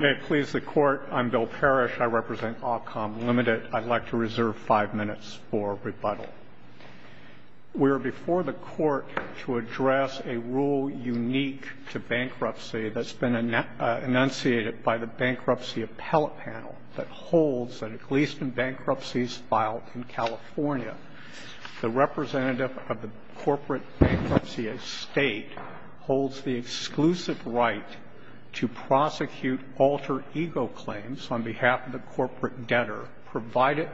May it please the Court, I'm Bill Parrish, I represent Ahcom, Ltd. I'd like to reserve five minutes for rebuttal. We are before the Court to address a rule unique to bankruptcy that's been enunciated by the Bankruptcy Appellate Panel that holds that at least in bankruptcies filed in California, the representative of the corporate bankruptcy estate holds the exclusive right to prosecute alter ego claims on behalf of the corporate debtor, provided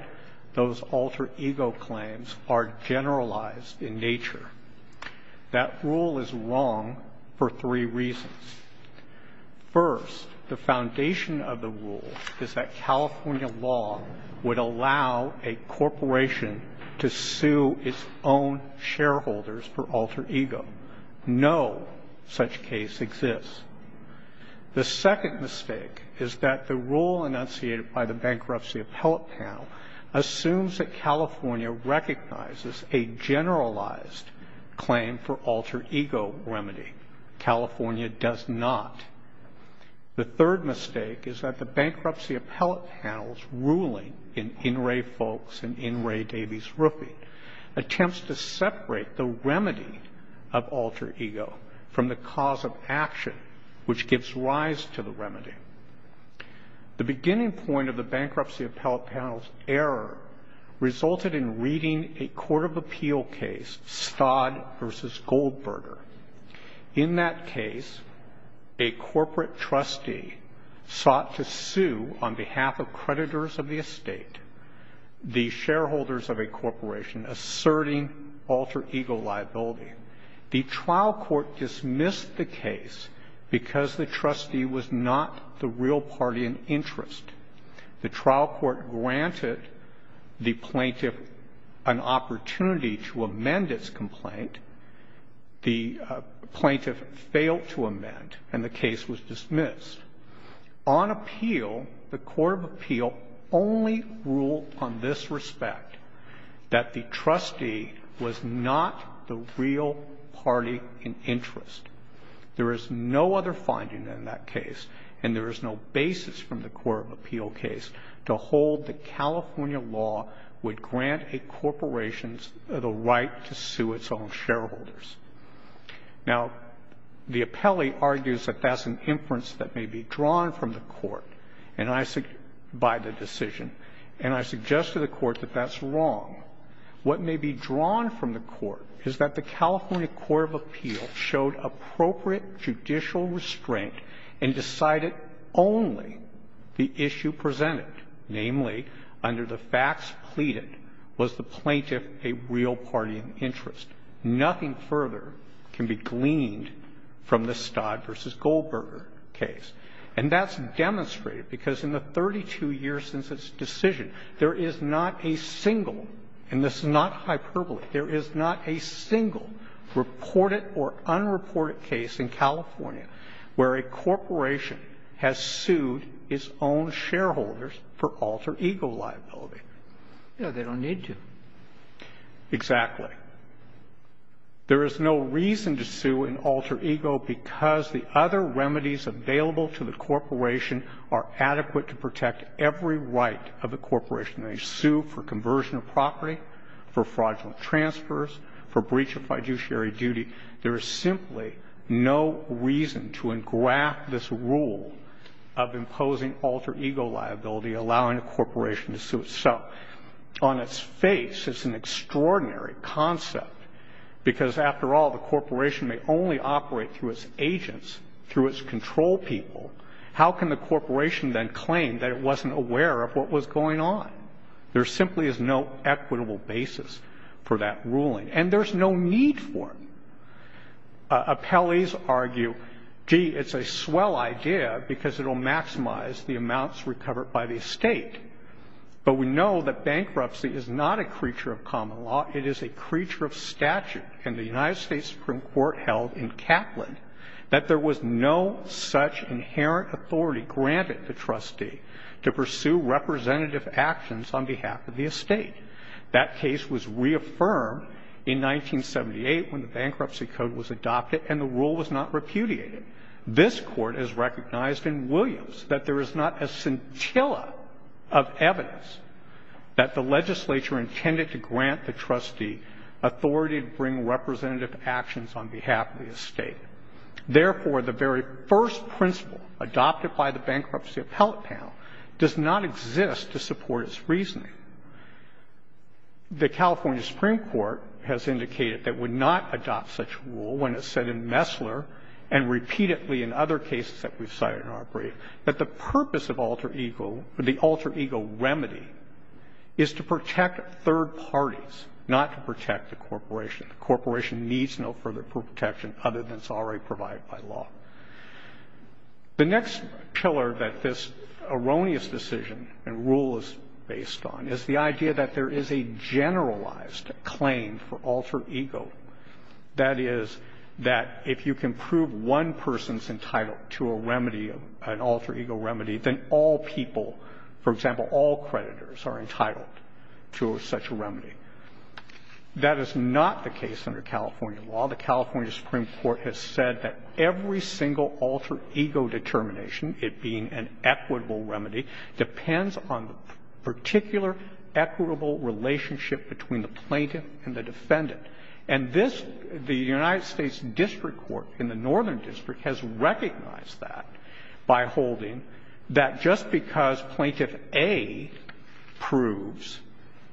those alter ego claims are generalized in nature. That rule is wrong for three reasons. First, the foundation of the rule is that California law would allow a corporation to sue its own shareholders for alter ego. No such case exists. The second mistake is that the rule enunciated by the Bankruptcy Appellate Panel assumes that California recognizes a generalized claim for alter ego remedy. California does not. The third mistake is that the Bankruptcy Appellate Panel's ruling in In Re Folks and In Re Davies Roofing attempts to separate the remedy of alter ego from the cause of action, which gives rise to the remedy. The beginning point of the Bankruptcy Appellate Panel's error resulted in reading a court of appeal case, Stodd v. Goldberger. In that case, a corporate trustee sought to sue on behalf of creditors of the estate, the shareholders of a corporation, asserting alter ego liability. The trial court dismissed the case because the trustee was not the real party in interest. The trial court granted the plaintiff an opportunity to amend its complaint. The plaintiff failed to amend, and the case was dismissed. On appeal, the court of appeal only ruled on this respect, that the trustee was not the real party in interest. There is no other finding in that case, and there is no basis from the court of appeal case to hold that California law would grant a corporation the right to sue its own shareholders. Now, the appellee argues that that's an inference that may be drawn from the court by the decision, and I suggest to the court that that's wrong. What may be drawn from the court is that the California court of appeal showed appropriate judicial restraint and decided only the issue presented, namely, under the facts pleaded, was the plaintiff a real party in interest. Nothing further can be gleaned from the Stodd v. Goldberger case. And that's demonstrated because in the 32 years since its decision, there is not a single – and this is not hyperbole – there is not a single reported or unreported case in California where a corporation has sued its own shareholders for alter ego liability. Roberts. They don't need to. Exactly. There is no reason to sue an alter ego because the other remedies available to the corporation are adequate to protect every right of the corporation. They sue for conversion of property, for fraudulent transfers, for breach of fiduciary duty. There is simply no reason to engraft this rule of imposing alter ego liability, allowing a corporation to sue itself. On its face, it's an extraordinary concept because, after all, the corporation may only operate through its agents, through its control people. How can the corporation then claim that it wasn't aware of what was going on? There simply is no equitable basis for that ruling. And there's no need for it. Appellees argue, gee, it's a swell idea because it will maximize the amounts recovered by the estate. But we know that bankruptcy is not a creature of common law. It is a creature of statute. And the United States Supreme Court held in Kaplan that there was no such inherent authority granted to trustee to pursue representative actions on behalf of the estate. That case was reaffirmed in 1978 when the Bankruptcy Code was adopted and the rule was not repudiated. In addition, this Court has recognized in Williams that there is not a scintilla of evidence that the legislature intended to grant the trustee authority to bring representative actions on behalf of the estate. Therefore, the very first principle adopted by the Bankruptcy Appellate Panel does not exist to support its reasoning. The California Supreme Court has indicated that it would not adopt such a rule when it says in Messler and repeatedly in other cases that we've cited in our brief that the purpose of alter ego, the alter ego remedy, is to protect third parties, not to protect the corporation. The corporation needs no further protection other than it's already provided by law. The next pillar that this erroneous decision and rule is based on is the idea that there is a generalized claim for alter ego. That is, that if you can prove one person's entitled to a remedy, an alter ego remedy, then all people, for example, all creditors, are entitled to such a remedy. That is not the case under California law. The California Supreme Court has said that every single alter ego determination, it being an equitable remedy, depends on the particular equitable relationship between the plaintiff and the defendant. And this, the United States District Court in the Northern District has recognized that by holding that just because Plaintiff A proves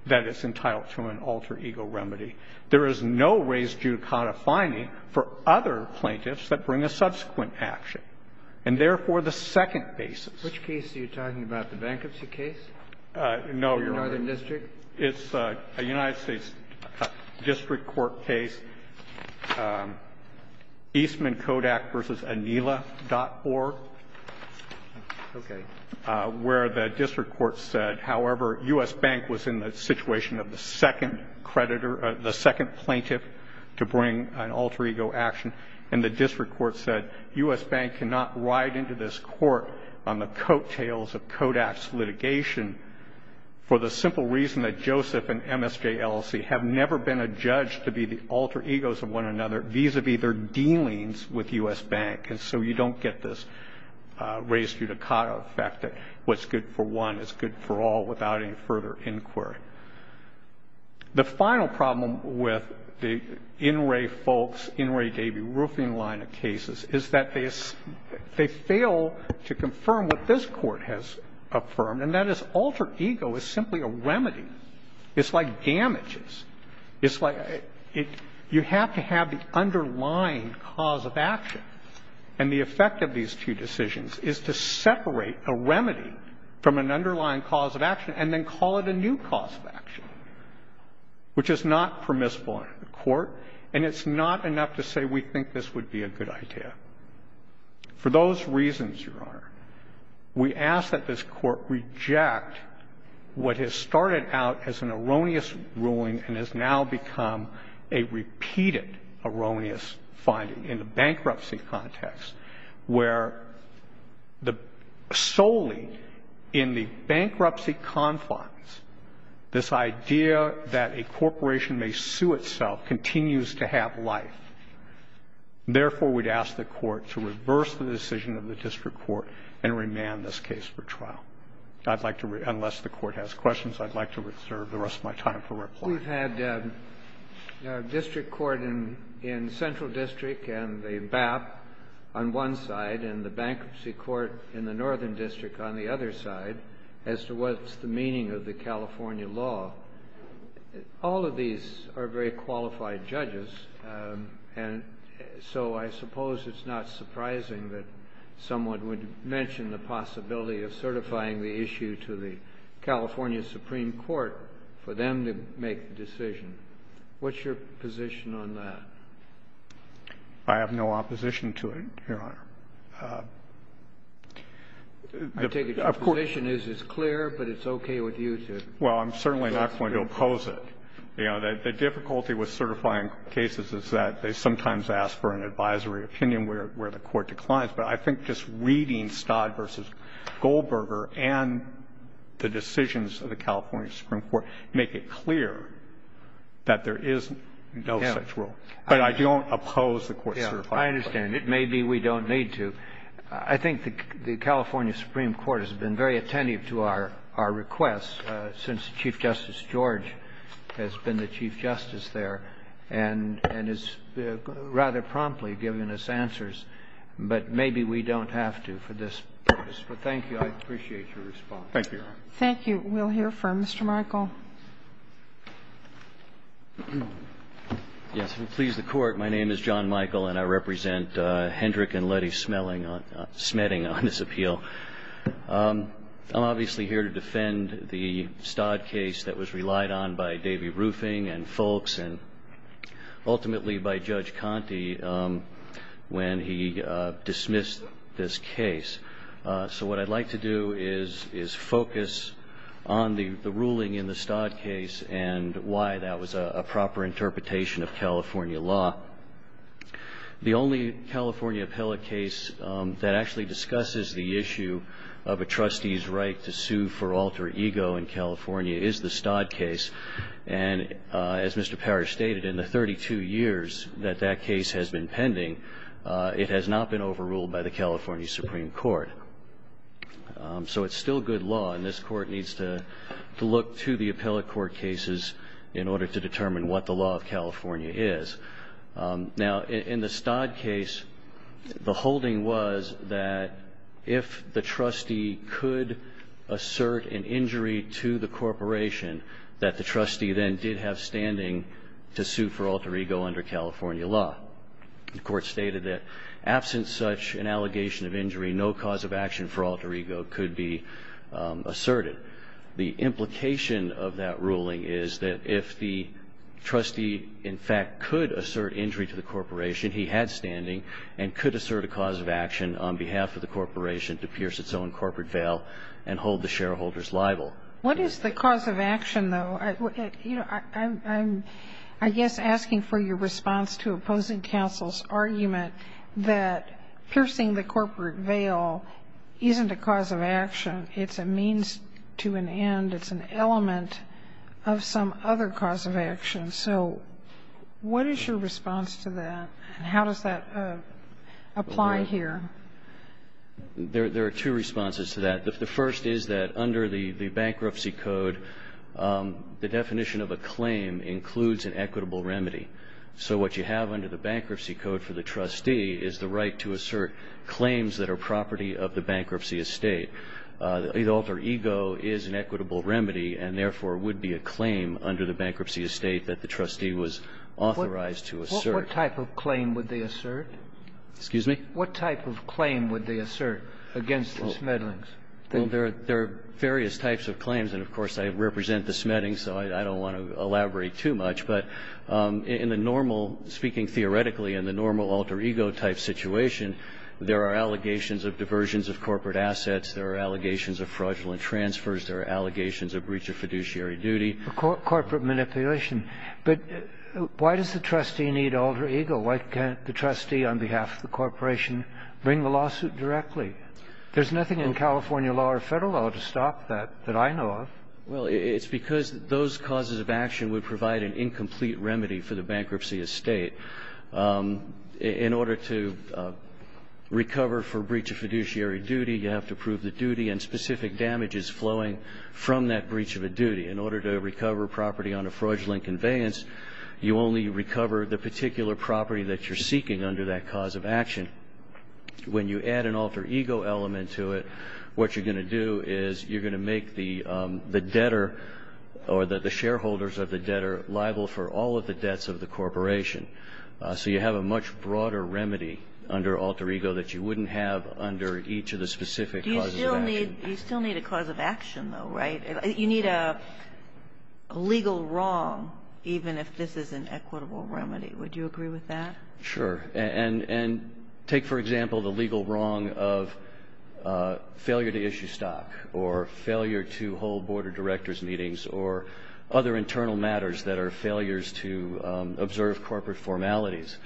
that it's entitled to an alter ego remedy, there is no raised judicata finding for other plaintiffs that bring a subsequent action. And therefore, the second basis. Kennedy. Which case are you talking about? The bankruptcy case? No, Your Honor. The Northern District? It's a United States District Court case, Eastman Kodak v. Anila.org. Okay. Where the district court said, however, U.S. Bank was in the situation of the second creditor or the second plaintiff to bring an alter ego action, and the district court said U.S. Bank cannot ride into this court on the coattails of Kodak's litigation for the simple reason that Joseph and MSJ LLC have never been a judge to be the alter egos of one another vis-a-vis their dealings with U.S. Bank. And so you don't get this raised judicata, the fact that what's good for one is good for all without any further inquiry. The final problem with the In re Folks, In re Debi roofing line of cases is that they fail to confirm what this Court has affirmed, and that is alter ego is simply a remedy. It's like damages. It's like you have to have the underlying cause of action. And the effect of these two decisions is to separate a remedy from an underlying cause of action and then call it a new cause of action, which is not permissible in the Court. And it's not enough to say we think this would be a good idea. For those reasons, Your Honor, we ask that this Court reject what has started out as an erroneous ruling and has now become a repeated erroneous finding in the bankruptcy confines, this idea that a corporation may sue itself continues to have life. Therefore, we'd ask the Court to reverse the decision of the district court and remand this case for trial. I'd like to, unless the Court has questions, I'd like to reserve the rest of my time for reply. Kennedy We've had district court in Central District and the BAP on one side and the And I'd like to ask you, Mr. Kramer, what's the meaning of the California law? All of these are very qualified judges, and so I suppose it's not surprising that someone would mention the possibility of certifying the issue to the California Supreme Court for them to make the decision. What's your position on that? Kramer I have no opposition to it, Your Honor. Kennedy I take it your position is it's clear, but it's okay with you to Kramer Well, I'm certainly not going to oppose it. The difficulty with certifying cases is that they sometimes ask for an advisory opinion where the Court declines. But I think just reading Stodd v. Goldberger and the decisions of the California Supreme Court make it clear that there is no such rule. But I don't oppose the court certifying. Kennedy I understand. Maybe we don't need to. I think the California Supreme Court has been very attentive to our requests since Chief Justice George has been the Chief Justice there and has rather promptly given us answers, but maybe we don't have to for this purpose. But thank you. I appreciate your response. Kramer Thank you, Your Honor. Kagan Thank you. We'll hear from Mr. Michael. Michael Yes. Please, the Court. My name is John Michael, and I represent Hendrick and Luddy Smetting on this appeal. I'm obviously here to defend the Stodd case that was relied on by Davy Roofing and Folks and ultimately by Judge Conte when he dismissed this case. So what I'd like to do is focus on the ruling in the Stodd case and why that was a proper interpretation of California law. The only California appellate case that actually discusses the issue of a trustee's right to sue for alter ego in California is the Stodd case. And as Mr. Parrish stated, in the 32 years that that case has been pending, it has not been overruled by the California Supreme Court. So it's still good law, and this Court needs to look to the appellate court cases in order to determine what the law of California is. Now, in the Stodd case, the holding was that if the trustee could assert an injury to the corporation, that the trustee then did have standing to sue for alter ego under California law. The Court stated that absent such an allegation of injury, no cause of action for alter ego could be asserted. The implication of that ruling is that if the trustee, in fact, could assert injury to the corporation, he had standing and could assert a cause of action on behalf of the corporation to pierce its own corporate veil and hold the shareholders liable. What is the cause of action, though? I'm, I guess, asking for your response to opposing counsel's argument that piercing the corporate veil isn't a cause of action. It's a means to an end. It's an element of some other cause of action. So what is your response to that, and how does that apply here? There are two responses to that. The first is that under the Bankruptcy Code, the definition of a claim includes an equitable remedy. So what you have under the Bankruptcy Code for the trustee is the right to assert claims that are property of the bankruptcy estate. Alter ego is an equitable remedy and, therefore, would be a claim under the bankruptcy estate that the trustee was authorized to assert. What type of claim would they assert? Excuse me? What type of claim would they assert against the Smedlings? Well, there are various types of claims. And, of course, I represent the Smedlings, so I don't want to elaborate too much. But in the normal, speaking theoretically, in the normal alter ego type situation, there are allegations of diversions of corporate assets. There are allegations of fraudulent transfers. There are allegations of breach of fiduciary duty. Corporate manipulation. But why does the trustee need alter ego? Why can't the trustee, on behalf of the corporation, bring the lawsuit directly? There's nothing in California law or Federal law to stop that that I know of. Well, it's because those causes of action would provide an incomplete remedy for the bankruptcy estate. In order to recover for breach of fiduciary duty, you have to prove the duty and specific damages flowing from that breach of a duty. In order to recover property on a fraudulent conveyance, you only recover the particular property that you're seeking under that cause of action. And when you add an alter ego element to it, what you're going to do is you're going to make the debtor or the shareholders of the debtor liable for all of the debts of the corporation. So you have a much broader remedy under alter ego that you wouldn't have under each of the specific causes of action. You still need a cause of action, though, right? You need a legal wrong, even if this is an equitable remedy. Would you agree with that? Sure. And take, for example, the legal wrong of failure to issue stock or failure to hold board of directors meetings or other internal matters that are failures to observe corporate formalities.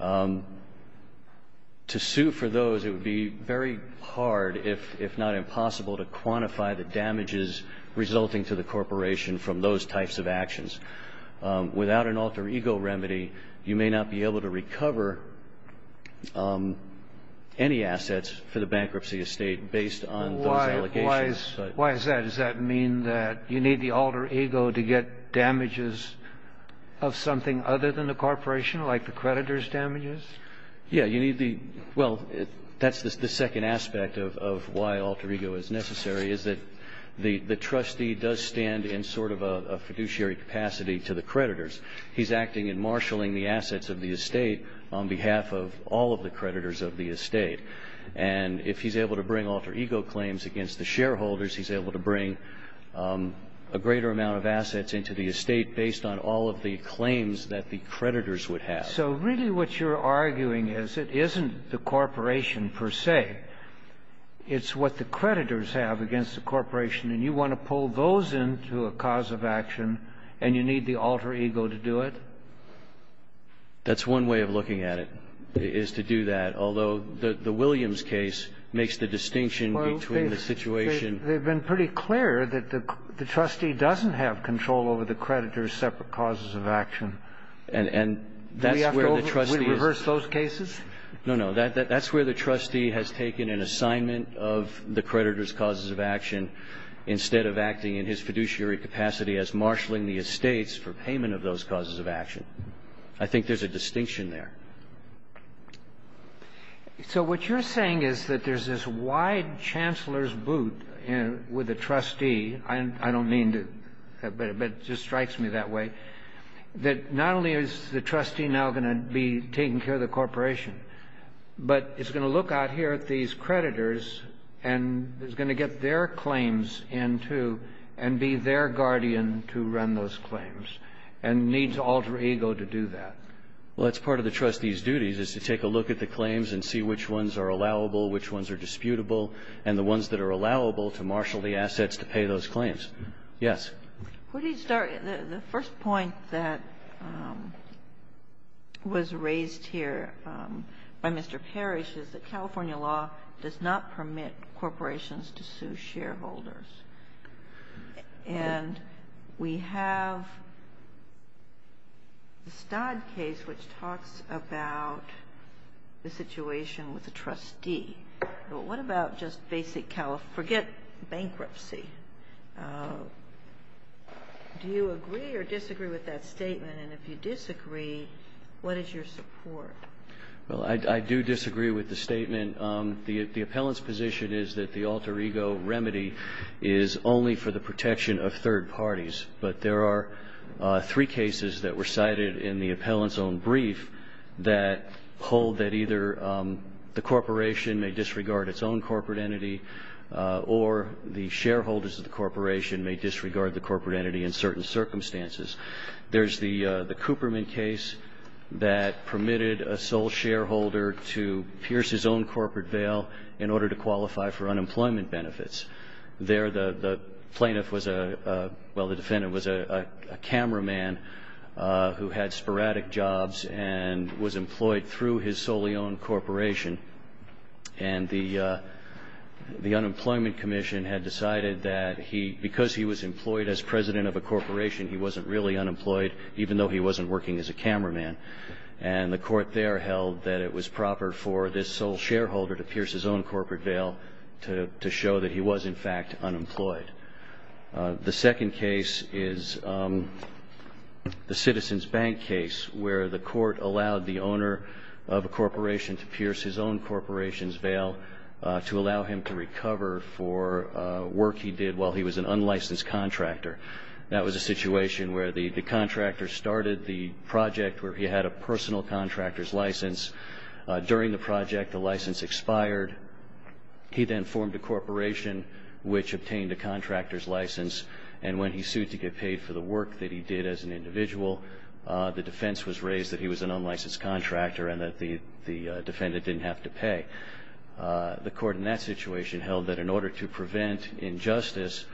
To sue for those, it would be very hard, if not impossible, to quantify the damages without an alter ego remedy, you may not be able to recover any assets for the bankruptcy estate based on those allegations. Why is that? Does that mean that you need the alter ego to get damages of something other than the corporation, like the creditor's damages? Yeah. Well, that's the second aspect of why alter ego is necessary, is that the trustee does not stand in sort of a fiduciary capacity to the creditors. He's acting and marshalling the assets of the estate on behalf of all of the creditors of the estate. And if he's able to bring alter ego claims against the shareholders, he's able to bring a greater amount of assets into the estate based on all of the claims that the creditors would have. So really what you're arguing is it isn't the corporation per se. It's what the creditors have against the corporation, and you want to pull those into a cause of action, and you need the alter ego to do it? That's one way of looking at it, is to do that, although the Williams case makes the distinction between the situation. Well, they've been pretty clear that the trustee doesn't have control over the creditors' separate causes of action. And that's where the trustee is. Do we have to reverse those cases? No, no. That's where the trustee has taken an assignment of the creditors' causes of action instead of acting in his fiduciary capacity as marshalling the estates for payment of those causes of action. I think there's a distinction there. So what you're saying is that there's this wide chancellor's boot with the trustee. I don't mean to – but it just strikes me that way, that not only is the trustee now going to be taking care of the corporation, but is going to look out here at these creditors and is going to get their claims into and be their guardian to run those claims, and needs alter ego to do that. Well, that's part of the trustee's duties, is to take a look at the claims and see which ones are allowable, which ones are disputable, and the ones that are allowable to marshal the assets to pay those claims. Yes. Where do you start? The first point that was raised here by Mr. Parrish is that California law does not permit corporations to sue shareholders. And we have the Stodd case, which talks about the situation with the trustee. But what about just basic – forget bankruptcy. Do you agree or disagree with that statement? And if you disagree, what is your support? Well, I do disagree with the statement. The appellant's position is that the alter ego remedy is only for the protection of third parties. But there are three cases that were cited in the appellant's own brief that hold that either the corporation may disregard its own corporate entity or the shareholders of the corporation may disregard the corporate entity in certain circumstances. There's the Cooperman case that permitted a sole shareholder to pierce his own corporate veil in order to qualify for unemployment benefits. There, the plaintiff was a – well, the defendant was a cameraman who had sporadic jobs and was employed through his solely owned corporation. And the Unemployment Commission had decided that he – because he was employed as president of a corporation, he wasn't really unemployed, even though he wasn't working as a cameraman. And the court there held that it was proper for this sole shareholder to pierce his own corporate veil to show that he was, in fact, unemployed. The second case is the Citizens Bank case where the court allowed the owner of a corporation to pierce his own corporation's veil to allow him to recover for work he did while he was an unlicensed contractor. That was a situation where the contractor started the project where he had a personal contractor's license. During the project, the license expired. He then formed a corporation which obtained a contractor's license. And when he sued to get paid for the work that he did as an individual, the defense was raised that he was an unlicensed contractor and that the defendant didn't have to pay. The court in that situation held that in order to prevent injustice,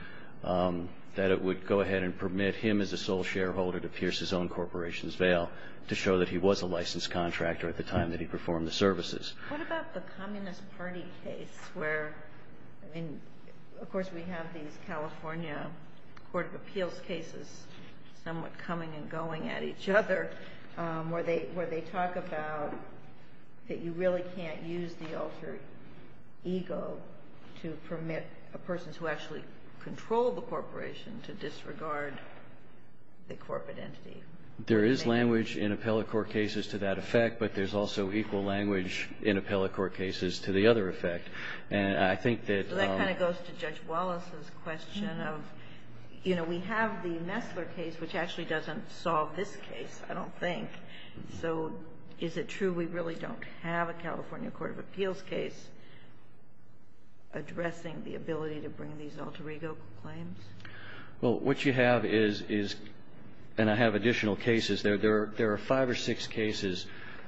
that it would go ahead and permit him as a sole shareholder to pierce his own corporation's veil to show that he was a licensed contractor at the time that he performed the services. What about the Communist Party case where, I mean, of course we have these California Court of Appeals cases somewhat coming and going at each other where they talk about that you really can't use the alter ego to permit a person to actually control the corporation to disregard the corporate entity? There is language in appellate court cases to that effect, but there's also equal language in appellate court cases to the other effect. And I think that So that kind of goes to Judge Wallace's question of, you know, we have the Messler case, which actually doesn't solve this case, I don't think. So is it true we really don't have a California Court of Appeals case addressing the ability to bring these alter ego claims? Well, what you have is, and I have additional cases, there are five or six cases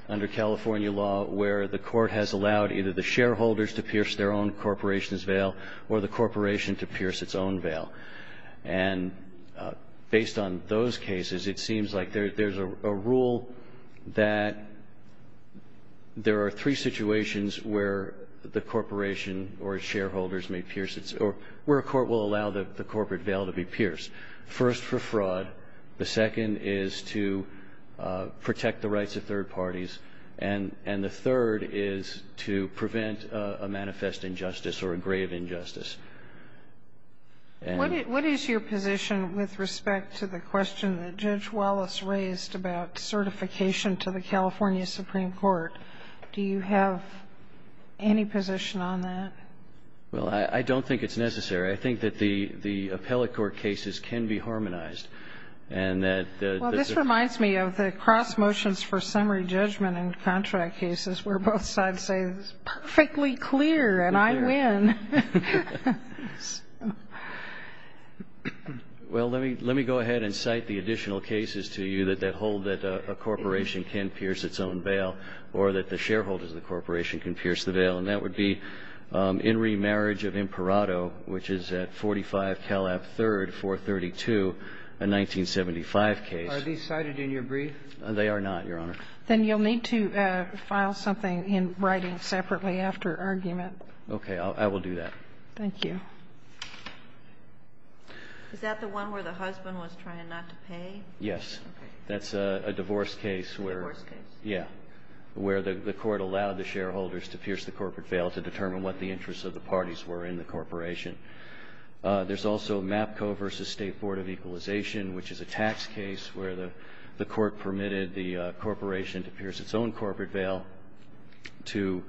under California law where the court has allowed either the shareholders to pierce their own corporation's veil or the corporation to pierce its own veil. And based on those cases, it seems like there's a rule that there are three situations where the corporation or its shareholders may pierce its, or where a court will allow the corporate veil to be pierced. First, for fraud. The second is to protect the rights of third parties. And the third is to prevent a manifest injustice or a grave injustice. What is your position with respect to the question that Judge Wallace raised about certification to the California Supreme Court? Do you have any position on that? Well, I don't think it's necessary. I think that the appellate court cases can be harmonized. Well, this reminds me of the cross motions for summary judgment in contract cases where both sides say it's perfectly clear and I win. Well, let me go ahead and cite the additional cases to you that hold that a corporation can pierce its own veil or that the shareholders of the corporation can pierce the veil. And that would be in remarriage of Imparato, which is at 45 Calab 3rd, 432, a 1975 case. Are these cited in your brief? They are not, Your Honor. Then you'll need to file something in writing separately after argument. Okay. I will do that. Thank you. Is that the one where the husband was trying not to pay? Yes. Okay. That's a divorce case where Divorce case. Yeah, where the court allowed the shareholders to pierce the corporate veil to determine what the interests of the parties were in the corporation. There's also MAPCO v. State Board of Equalization, which is a tax case where the court permitted the corporation to pierce its own corporate veil to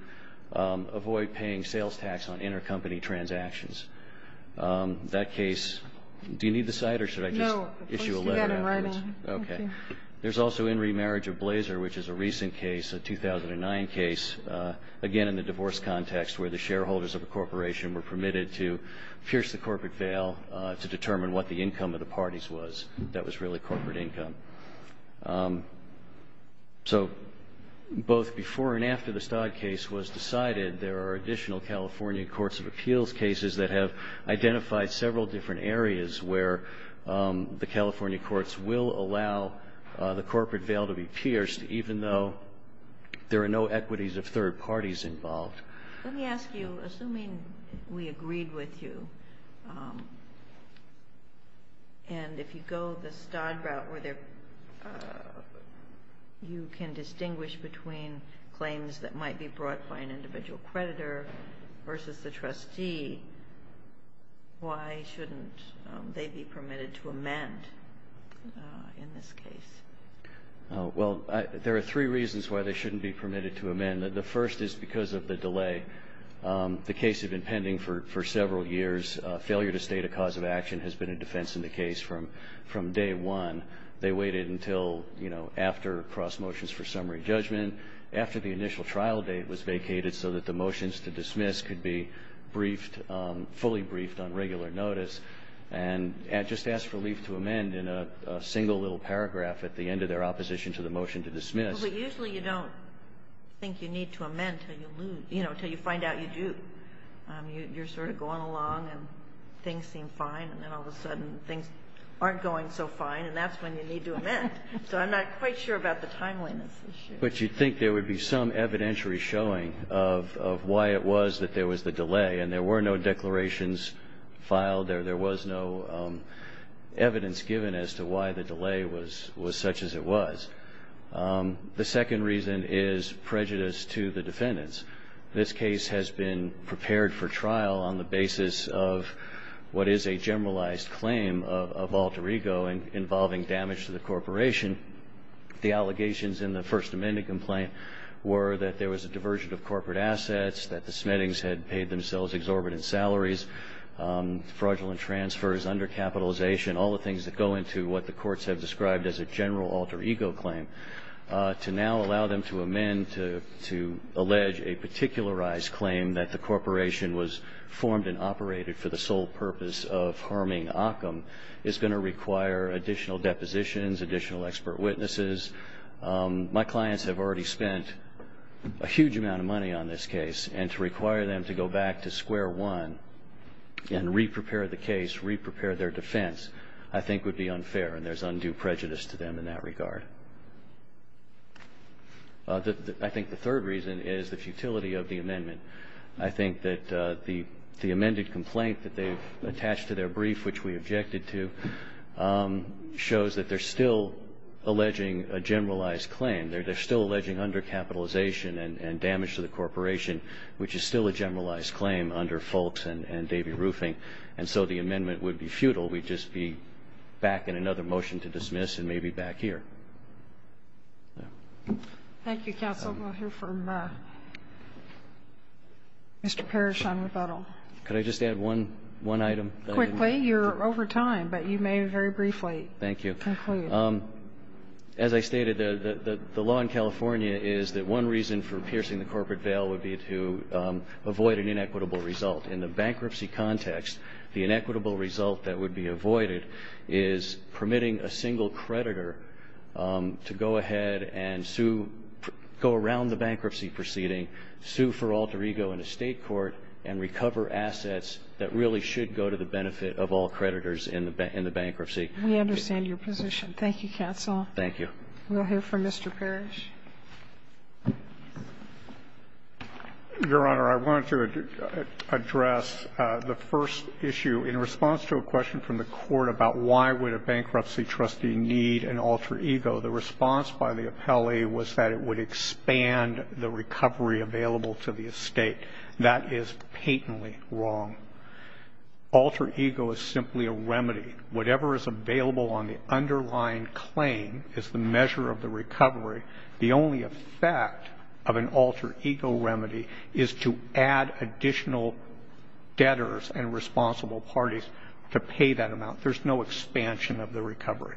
avoid paying sales tax on intercompany transactions. That case, do you need the cite or should I just issue a letter afterwards? No, you've got it in writing. Okay. There's also in remarriage of Blazer, which is a recent case, a 2009 case, again, in the divorce context where the shareholders of the corporation were permitted to pierce the corporate veil to determine what the income of the parties was. That was really corporate income. So both before and after the Stodd case was decided, there are additional California courts of appeals cases that have identified several different areas where the California courts will allow the corporate veil to be pierced even though there are no equities of third parties involved. Let me ask you, assuming we agreed with you, and if you go the Stodd route where you can distinguish between claims that might be brought by an individual creditor versus the trustee, why shouldn't they be permitted to amend in this case? Well, there are three reasons why they shouldn't be permitted to amend. The first is because of the delay. The case had been pending for several years. Failure to state a cause of action has been a defense in the case from day one. They waited until, you know, after cross motions for summary judgment, after the initial trial date was vacated so that the motions to dismiss could be briefed, fully briefed on regular notice, and just asked for leave to amend in a single little paragraph at the end of their opposition to the motion to dismiss. But usually you don't think you need to amend until you lose, you know, until you find out you do. You're sort of going along and things seem fine, and then all of a sudden things aren't going so fine, and that's when you need to amend. So I'm not quite sure about the timeliness issue. But you'd think there would be some evidentiary showing of why it was that there was the delay, and there were no declarations filed. There was no evidence given as to why the delay was such as it was. The second reason is prejudice to the defendants. This case has been prepared for trial on the basis of what is a generalized claim of alter ego involving damage to the corporation. The allegations in the First Amendment complaint were that there was a diversion of corporate assets, that the Smittings had paid themselves exorbitant salaries, fraudulent transfers, undercapitalization, all the things that go into what the courts have described as a general alter ego claim. To now allow them to amend to allege a particularized claim that the corporation was formed and operated for the sole purpose of harming Occam is going to require additional depositions, additional expert witnesses. My clients have already spent a huge amount of money on this case, and to require them to go back to square one and re-prepare the case, re-prepare their defense, I think would be unfair, and there's undue prejudice to them in that regard. I think the third reason is the futility of the amendment. I think that the amended complaint that they've attached to their brief, which we have here, shows that they're still alleging a generalized claim. They're still alleging undercapitalization and damage to the corporation, which is still a generalized claim under Folks and Davey Roofing, and so the amendment would be futile. We'd just be back in another motion to dismiss and maybe back here. Thank you, counsel. We'll hear from Mr. Parrish on rebuttal. Could I just add one item? Quickly. You're over time, but you may very briefly conclude. Thank you. As I stated, the law in California is that one reason for piercing the corporate bail would be to avoid an inequitable result. In the bankruptcy context, the inequitable result that would be avoided is permitting a single creditor to go ahead and sue, go around the bankruptcy proceeding, sue for alter ego in a State court, and recover assets that really should go to the benefit of all creditors in the bankruptcy. We understand your position. Thank you, counsel. Thank you. We'll hear from Mr. Parrish. Your Honor, I wanted to address the first issue. In response to a question from the Court about why would a bankruptcy trustee need an alter ego, the response by the appellee was that it would expand the recovery available to the estate. That is patently wrong. Alter ego is simply a remedy. Whatever is available on the underlying claim is the measure of the recovery. The only effect of an alter ego remedy is to add additional debtors and responsible parties to pay that amount. There's no expansion of the recovery.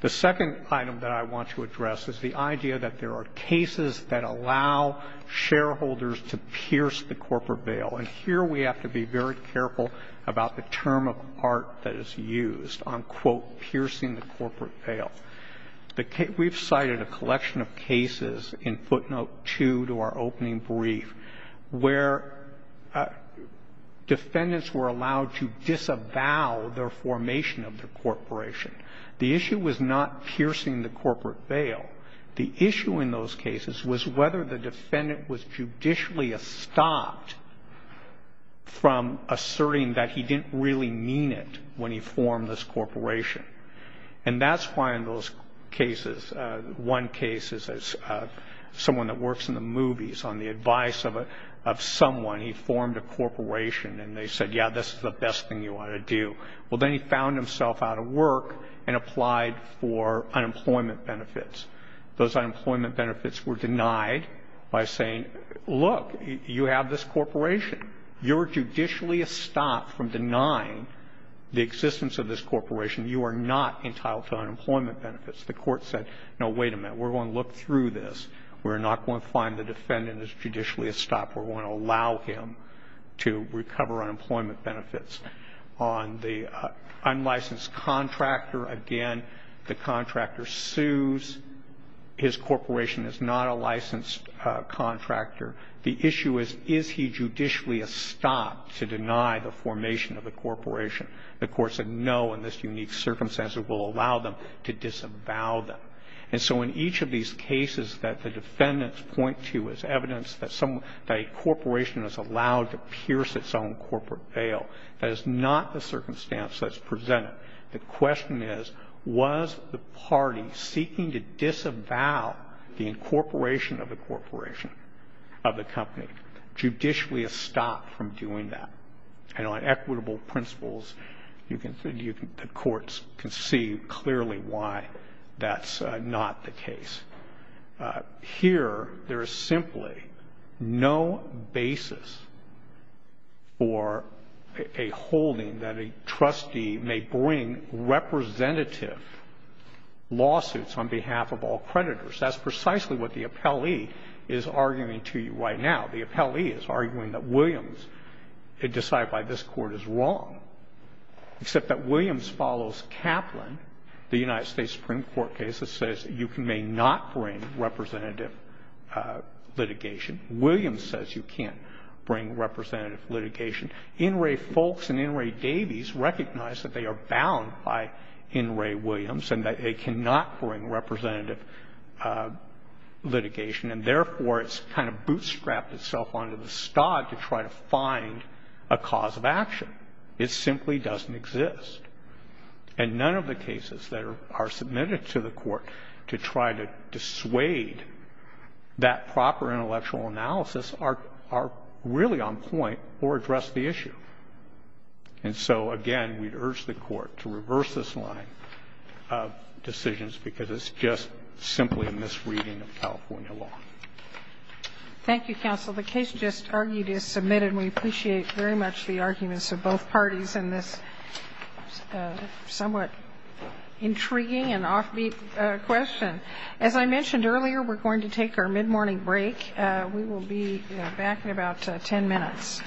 The second item that I want to address is the idea that there are cases that allow shareholders to pierce the corporate veil. And here we have to be very careful about the term of art that is used on, quote, piercing the corporate veil. We've cited a collection of cases in footnote 2 to our opening brief where defendants were allowed to disavow their formation of the corporation. The issue was not piercing the corporate veil. The issue in those cases was whether the defendant was judicially stopped from asserting that he didn't really mean it when he formed this corporation. And that's why in those cases, one case is someone that works in the movies. On the advice of someone, he formed a corporation, and they said, yeah, this is the best thing you ought to do. Well, then he found himself out of work and applied for unemployment benefits. Those unemployment benefits were denied by saying, look, you have this corporation. You're judicially stopped from denying the existence of this corporation. You are not entitled to unemployment benefits. The court said, no, wait a minute. We're going to look through this. We're not going to find the defendant is judicially stopped. We're going to allow him to recover unemployment benefits. On the unlicensed contractor, again, the contractor sues. His corporation is not a licensed contractor. The issue is, is he judicially stopped to deny the formation of the corporation? The court said, no, in this unique circumstance, it will allow them to disavow them. And so in each of these cases that the defendants point to as evidence that a corporation is allowed to pierce its own corporate veil, that is not the circumstance that's presented. The question is, was the party seeking to disavow the incorporation of the corporation, of the company, judicially stopped from doing that? And on equitable principles, the courts can see clearly why that's not the case. Here, there is simply no basis for a holding that a trustee may bring representative lawsuits on behalf of all creditors. That's precisely what the appellee is arguing to you right now. The appellee is arguing that Williams, decided by this Court, is wrong. Except that Williams follows Kaplan, the United States Supreme Court case, that says you may not bring representative litigation. Williams says you can't bring representative litigation. In re Foulkes and in re Davies recognize that they are bound by in re Williams and that they cannot bring representative litigation. And therefore, it's kind of bootstrapped itself onto the stod to try to find a cause of action. It simply doesn't exist. And none of the cases that are submitted to the Court to try to dissuade that proper intellectual analysis are really on point or address the issue. And so, again, we urge the Court to reverse this line of decisions because it's just simply a misreading of California law. Thank you, counsel. The case just argued is submitted. We appreciate very much the arguments of both parties in this somewhat intriguing and offbeat question. As I mentioned earlier, we're going to take our mid-morning break. We will be back in about ten minutes. Thank you, counsel.